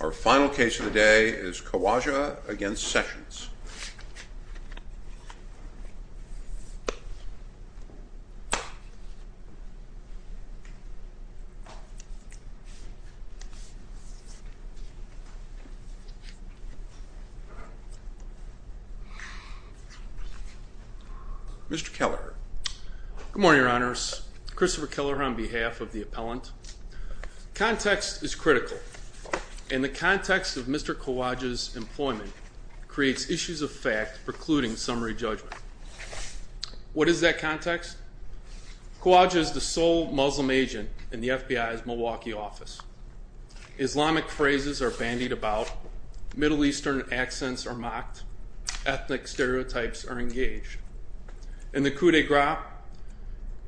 Our final case of the day is Khowaja v. Sessions. Mr. Keller. Good morning, Your Honors. Christopher Keller on behalf of the appellant. Context is critical, and the context of Mr. Khowaja's employment creates issues of fact precluding summary judgment. What is that context? Khowaja is the sole Muslim agent in the FBI's Milwaukee office. Islamic phrases are bandied about, Middle Eastern accents are mocked, ethnic stereotypes are engaged. In the coup d'etat,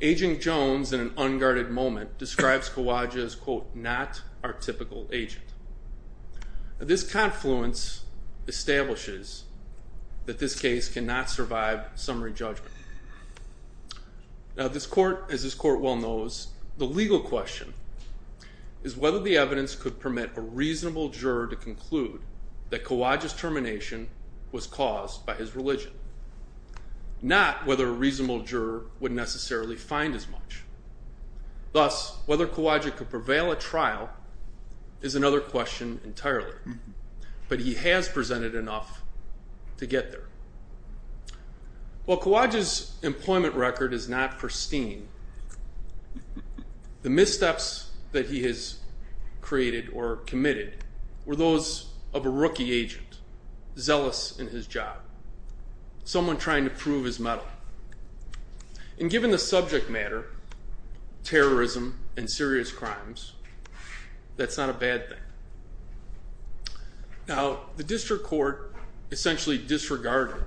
Agent Jones, in an unguarded moment, describes Khowaja as, quote, not our typical agent. This confluence establishes that this case cannot survive summary judgment. Now this court, as this court well knows, the legal question is whether the evidence could permit a reasonable juror to conclude that Khowaja's termination was caused by his religion. Not whether a reasonable juror would necessarily find as much. Thus, whether Khowaja could prevail at trial is another question entirely. But he has presented enough to get there. While Khowaja's employment record is not pristine, the missteps that he has created or committed were those of a rookie agent, zealous in his job. Someone trying to prove his mettle. And given the subject matter, terrorism and serious crimes, that's not a bad thing. Now, the district court essentially disregarded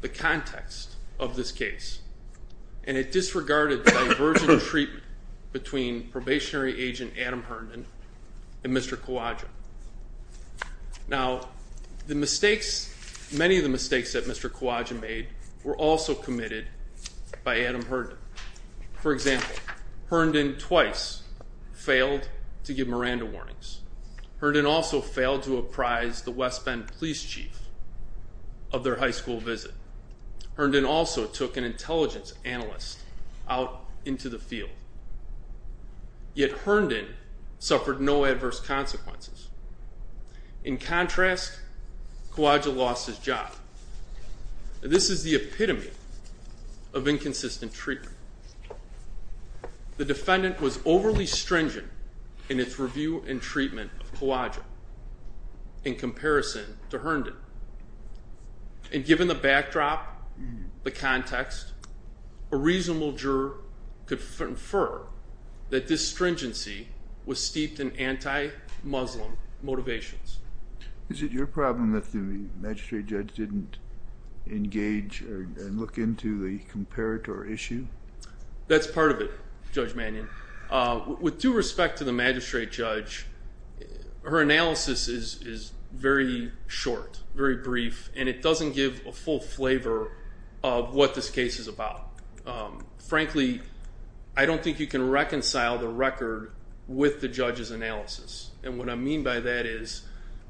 the context of this case. And it disregarded the divergent treatment between probationary agent Adam Herndon and Mr. Khowaja. Now, the mistakes, many of the mistakes that Mr. Khowaja made were also committed by Adam Herndon. For example, Herndon twice failed to give Miranda warnings. Herndon also failed to apprise the West Bend police chief of their high school visit. Herndon also took an intelligence analyst out into the field. Yet Herndon suffered no adverse consequences. In contrast, Khowaja lost his job. This is the epitome of inconsistent treatment. The defendant was overly stringent in its review and treatment of Khowaja in comparison to Herndon. And given the backdrop, the context, a reasonable juror could infer that this stringency was steeped in anti-Muslim motivations. Is it your problem that the magistrate judge didn't engage and look into the comparator issue? That's part of it, Judge Mannion. With due respect to the magistrate judge, her analysis is very short, very brief, and it doesn't give a full flavor of what this case is about. Frankly, I don't think you can reconcile the record with the judge's analysis. And what I mean by that is,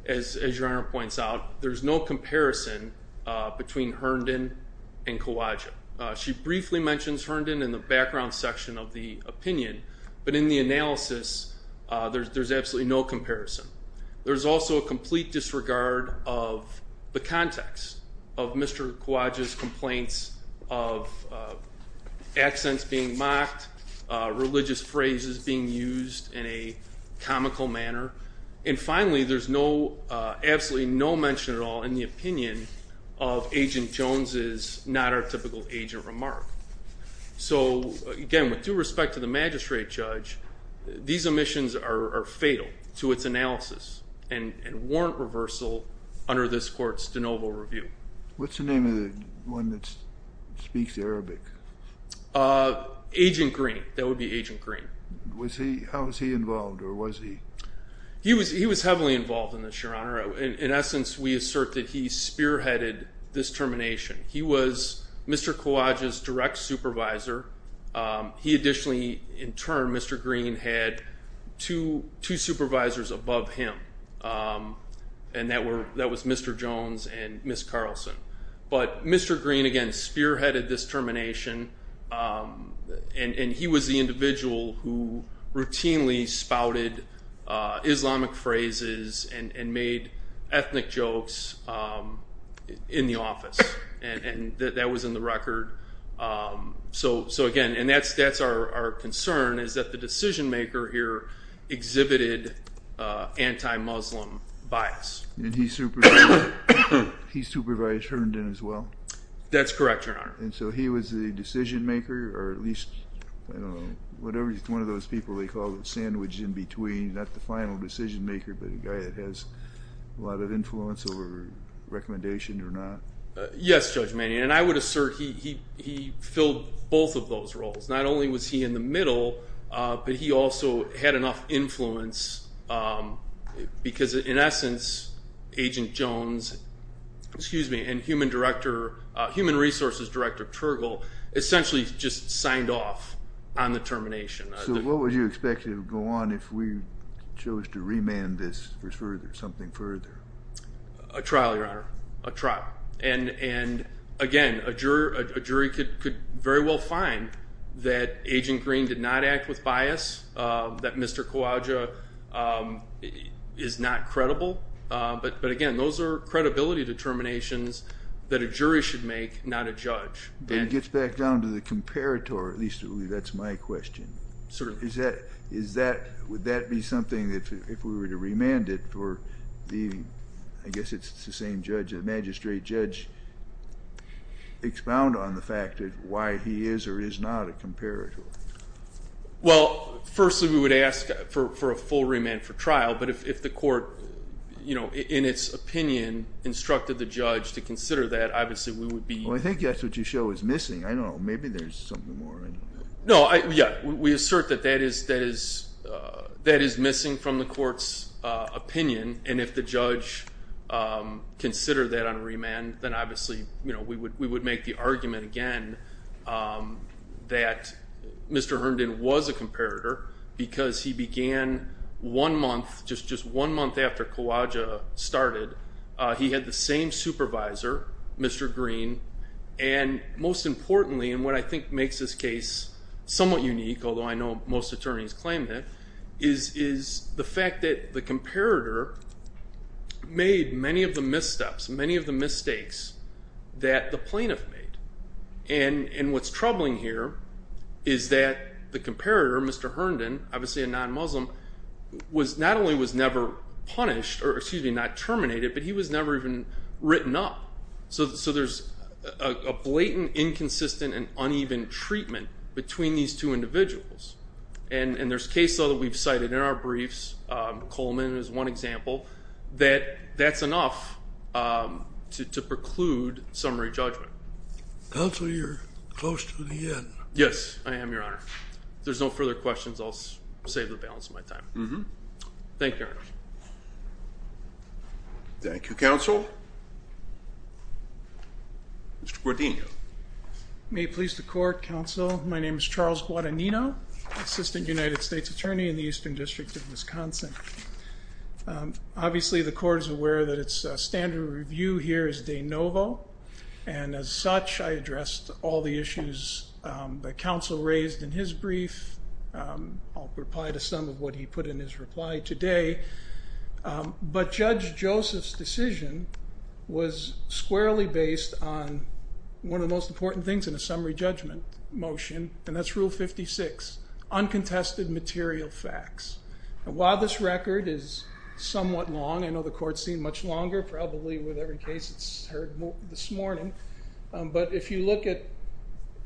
as Your Honor points out, there's no comparison between Herndon and Khowaja. She briefly mentions Herndon in the background section of the opinion, but in the analysis, there's absolutely no comparison. There's also a complete disregard of the context of Mr. Khowaja's complaints of accents being mocked, religious phrases being used in a comical manner. And finally, there's absolutely no mention at all in the opinion of Agent Jones's not-artifical agent remark. So again, with due respect to the magistrate judge, these omissions are fatal to its analysis and warrant reversal under this court's de novo review. What's the name of the one that speaks Arabic? Agent Green. That would be Agent Green. How was he involved, or was he? He was heavily involved in this, Your Honor. In essence, we assert that he spearheaded this termination. He was Mr. Khowaja's direct supervisor. He additionally, in turn, Mr. Green had two supervisors above him, and that was Mr. Jones and Ms. Carlson. But Mr. Green, again, spearheaded this termination, and he was the individual who routinely spouted Islamic phrases and made ethnic jokes in the office. And that was in the record. So again, and that's our concern, is that the decision-maker here exhibited anti-Muslim bias. And he supervised Herndon as well? That's correct, Your Honor. And so he was the decision-maker, or at least, I don't know, whatever one of those people they call the sandwich in between, not the final decision-maker, but the guy that has a lot of influence over recommendation or not? Yes, Judge Manion, and I would assert he filled both of those roles. Not only was he in the middle, but he also had enough influence because, in essence, Agent Jones and Human Resources Director Tergel essentially just signed off on the termination. So what would you expect to go on if we chose to remand this further, something further? A trial, Your Honor, a trial. And again, a jury could very well find that Agent Green did not act with bias, that Mr. Khawaja is not credible. But again, those are credibility determinations that a jury should make, not a judge. And it gets back down to the comparator, at least that's my question. Certainly. Would that be something that if we were to remand it for the, I guess it's the same judge, magistrate judge, expound on the fact that why he is or is not a comparator? Well, firstly, we would ask for a full remand for trial. But if the court, you know, in its opinion, instructed the judge to consider that, obviously, we would be— Well, I think that's what you show is missing. I don't know. Maybe there's something more. No, yeah. We assert that that is missing from the court's opinion. And if the judge considered that on remand, then obviously, you know, we would make the argument again that Mr. Herndon was a comparator because he began one month, just one month after Khawaja started, he had the same supervisor, Mr. Green. And most importantly, and what I think makes this case somewhat unique, although I know most attorneys claim that, is the fact that the comparator made many of the missteps, many of the mistakes that the plaintiff made. And what's troubling here is that the comparator, Mr. Herndon, obviously a non-Muslim, not only was never punished or, excuse me, not terminated, but he was never even written up. So there's a blatant, inconsistent, and uneven treatment between these two individuals. And there's case law that we've cited in our briefs, Coleman is one example, that that's enough to preclude summary judgment. Counsel, you're close to the end. Yes, I am, Your Honor. If there's no further questions, I'll save the balance of my time. Thank you, Your Honor. Thank you, Counsel. Mr. Guadagnino. May it please the Court, Counsel. My name is Charles Guadagnino, Assistant United States Attorney in the Eastern District of Wisconsin. Obviously, the Court is aware that its standard of review here is de novo, and as such, I addressed all the issues that Counsel raised in his brief. I'll reply to some of what he put in his reply today. But Judge Joseph's decision was squarely based on one of the most important things in a summary judgment motion, and that's Rule 56, uncontested material facts. And while this record is somewhat long, I know the Court's seen much longer, probably with every case it's heard this morning, but if you look at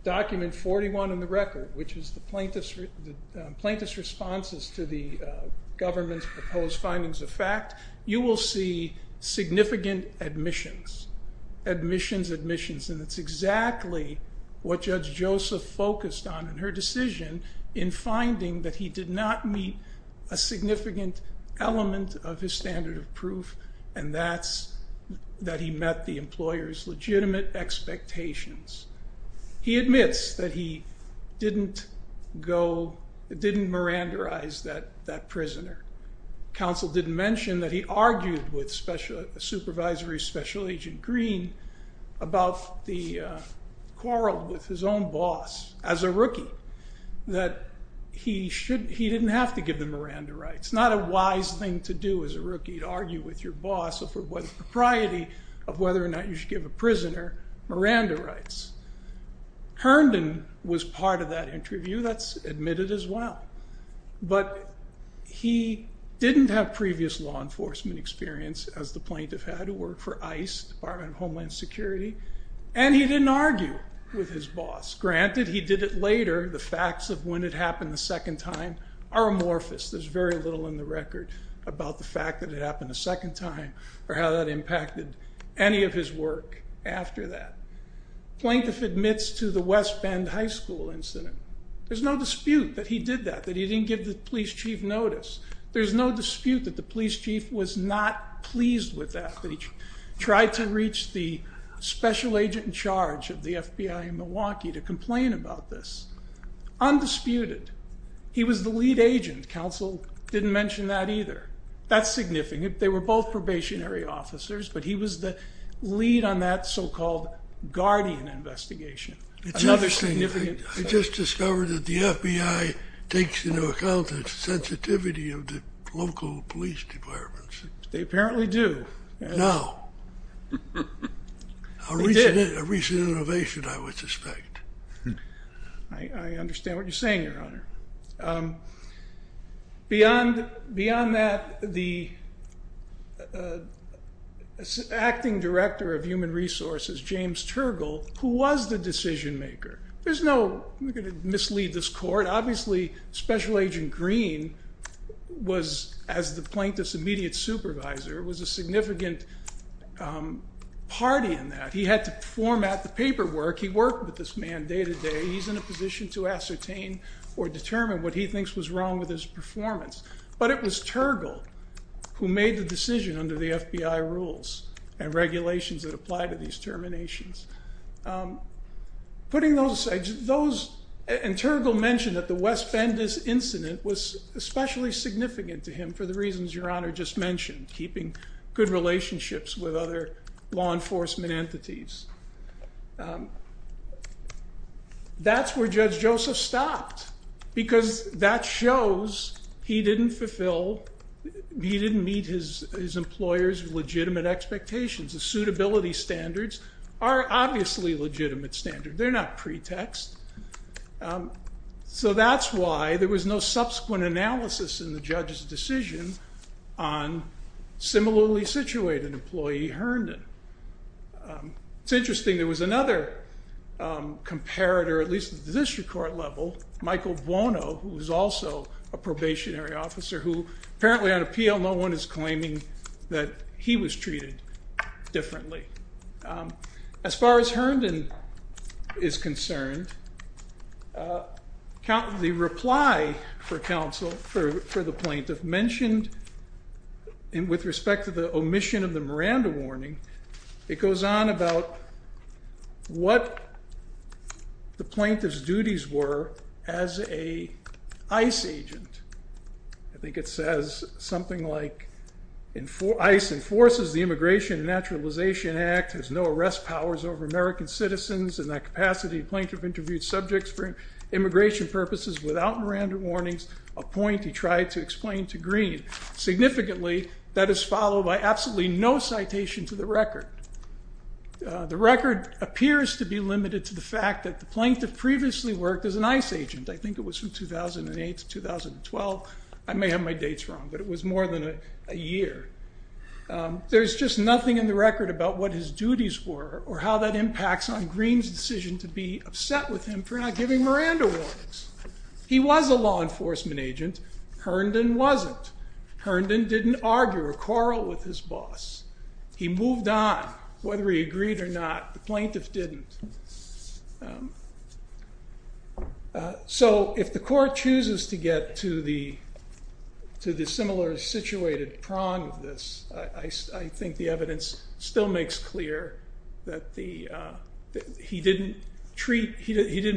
Document 41 in the record, which is the plaintiff's responses to the government's proposed findings of fact, you will see significant admissions, admissions, admissions. And it's exactly what Judge Joseph focused on in her decision in finding that he did not meet a significant element of his standard of proof, and that's that he met the employer's legitimate expectations. He admits that he didn't go, didn't mirandarize that prisoner. Counsel didn't mention that he argued with Supervisory Special Agent Green about the quarrel with his own boss as a rookie, that he didn't have to give the mirandarize. It's not a wise thing to do as a rookie to argue with your boss over the propriety of whether or not you should give a prisoner mirandarize. Herndon was part of that interview. That's admitted as well. But he didn't have previous law enforcement experience, as the plaintiff had, who worked for ICE, Department of Homeland Security, and he didn't argue with his boss. Granted, he did it later. The facts of when it happened the second time are amorphous. There's very little in the record about the fact that it happened a second time or how that impacted any of his work after that. Plaintiff admits to the West Bend High School incident. There's no dispute that he did that, that he didn't give the police chief notice. There's no dispute that the police chief was not pleased with that, that he tried to reach the special agent in charge of the FBI in Milwaukee to complain about this. Undisputed, he was the lead agent. Counsel didn't mention that either. That's significant. They were both probationary officers, but he was the lead on that so-called guardian investigation. It's interesting. I just discovered that the FBI takes into account the sensitivity of the local police departments. They apparently do. Now. A recent innovation, I would suspect. I understand what you're saying, Your Honor. Beyond that, the acting director of human resources, James Tergel, who was the decision maker. There's no, we're going to mislead this court. Obviously, Special Agent Green was, as the plaintiff's immediate supervisor, was a significant party in that. He had to format the paperwork. He worked with this man day to day. He's in a position to ascertain or determine what he thinks was wrong with his performance. But it was Tergel who made the decision under the FBI rules and regulations that apply to these terminations. Putting those aside, those, and Tergel mentioned that the West Bend incident was especially significant to him for the reasons Your Honor just mentioned, keeping good relationships with other law enforcement entities. That's where Judge Joseph stopped, because that shows he didn't fulfill, he didn't meet his employer's legitimate expectations. The suitability standards are obviously legitimate standards. They're not pretext. So that's why there was no subsequent analysis in the judge's decision on similarly situated employee Herndon. It's interesting. There was another comparator, at least at the district court level, Michael Buono, who was also a probationary officer, who apparently on appeal no one is claiming that he was treated differently. As far as Herndon is concerned, the reply for counsel, for the plaintiff, mentioned with respect to the omission of the Miranda warning, it goes on about what the plaintiff's duties were as an ICE agent. I think it says something like ICE enforces the Immigration and Naturalization Act, has no arrest powers over American citizens in that capacity. The plaintiff interviewed subjects for immigration purposes without Miranda warnings, a point he tried to explain to Green. Significantly, that is followed by absolutely no citation to the record. The record appears to be limited to the fact that the plaintiff previously worked as an ICE agent. I think it was from 2008 to 2012. I may have my dates wrong, but it was more than a year. There's just nothing in the record about what his duties were or how that impacts on Green's decision to be upset with him for not giving Miranda warnings. He was a law enforcement agent. Herndon wasn't. Herndon didn't argue or quarrel with his boss. He moved on whether he agreed or not. The plaintiff didn't. So if the court chooses to get to the similar situated prong of this, I think the evidence still makes clear that he didn't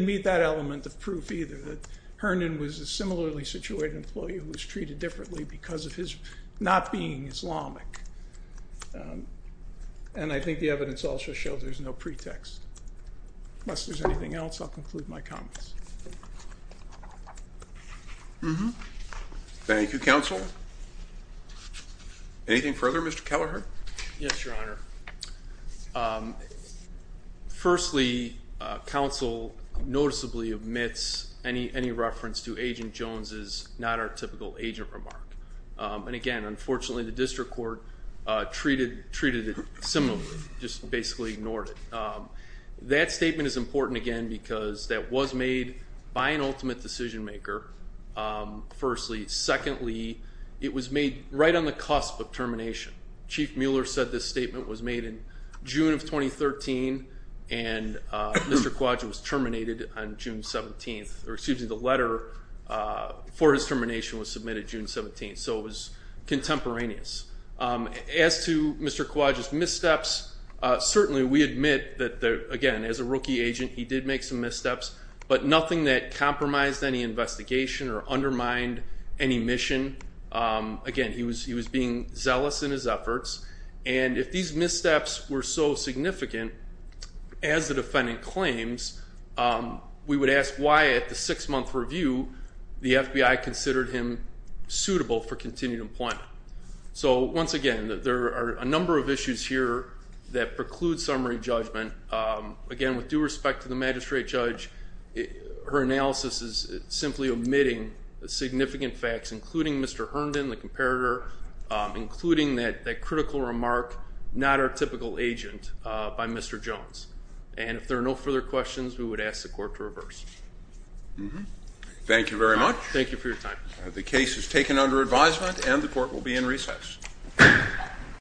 meet that element of proof either, that Herndon was a similarly situated employee who was treated differently because of his not being Islamic. And I think the evidence also shows there's no pretext. Unless there's anything else, I'll conclude my comments. Thank you, counsel. Anything further, Mr. Kelleher? Yes, Your Honor. Firstly, counsel noticeably omits any reference to Agent Jones's not our typical agent remark. And again, unfortunately, the district court treated it similarly, just basically ignored it. That statement is important, again, because that was made by an ultimate decision maker, firstly. Secondly, it was made right on the cusp of termination. Chief Mueller said this statement was made in June of 2013, and Mr. Kwaja was terminated on June 17th. Or excuse me, the letter for his termination was submitted June 17th. So it was contemporaneous. As to Mr. Kwaja's missteps, certainly we admit that, again, as a rookie agent, he did make some missteps. But nothing that compromised any investigation or undermined any mission. Again, he was being zealous in his efforts. And if these missteps were so significant, as the defendant claims, we would ask why, at the six-month review, the FBI considered him suitable for continued employment. So, once again, there are a number of issues here that preclude summary judgment. Again, with due respect to the magistrate judge, her analysis is simply omitting significant facts, including Mr. Herndon, the comparator, including that critical remark, not our typical agent, by Mr. Jones. And if there are no further questions, we would ask the court to reverse. Thank you very much. Thank you for your time. The case is taken under advisement, and the court will be in recess.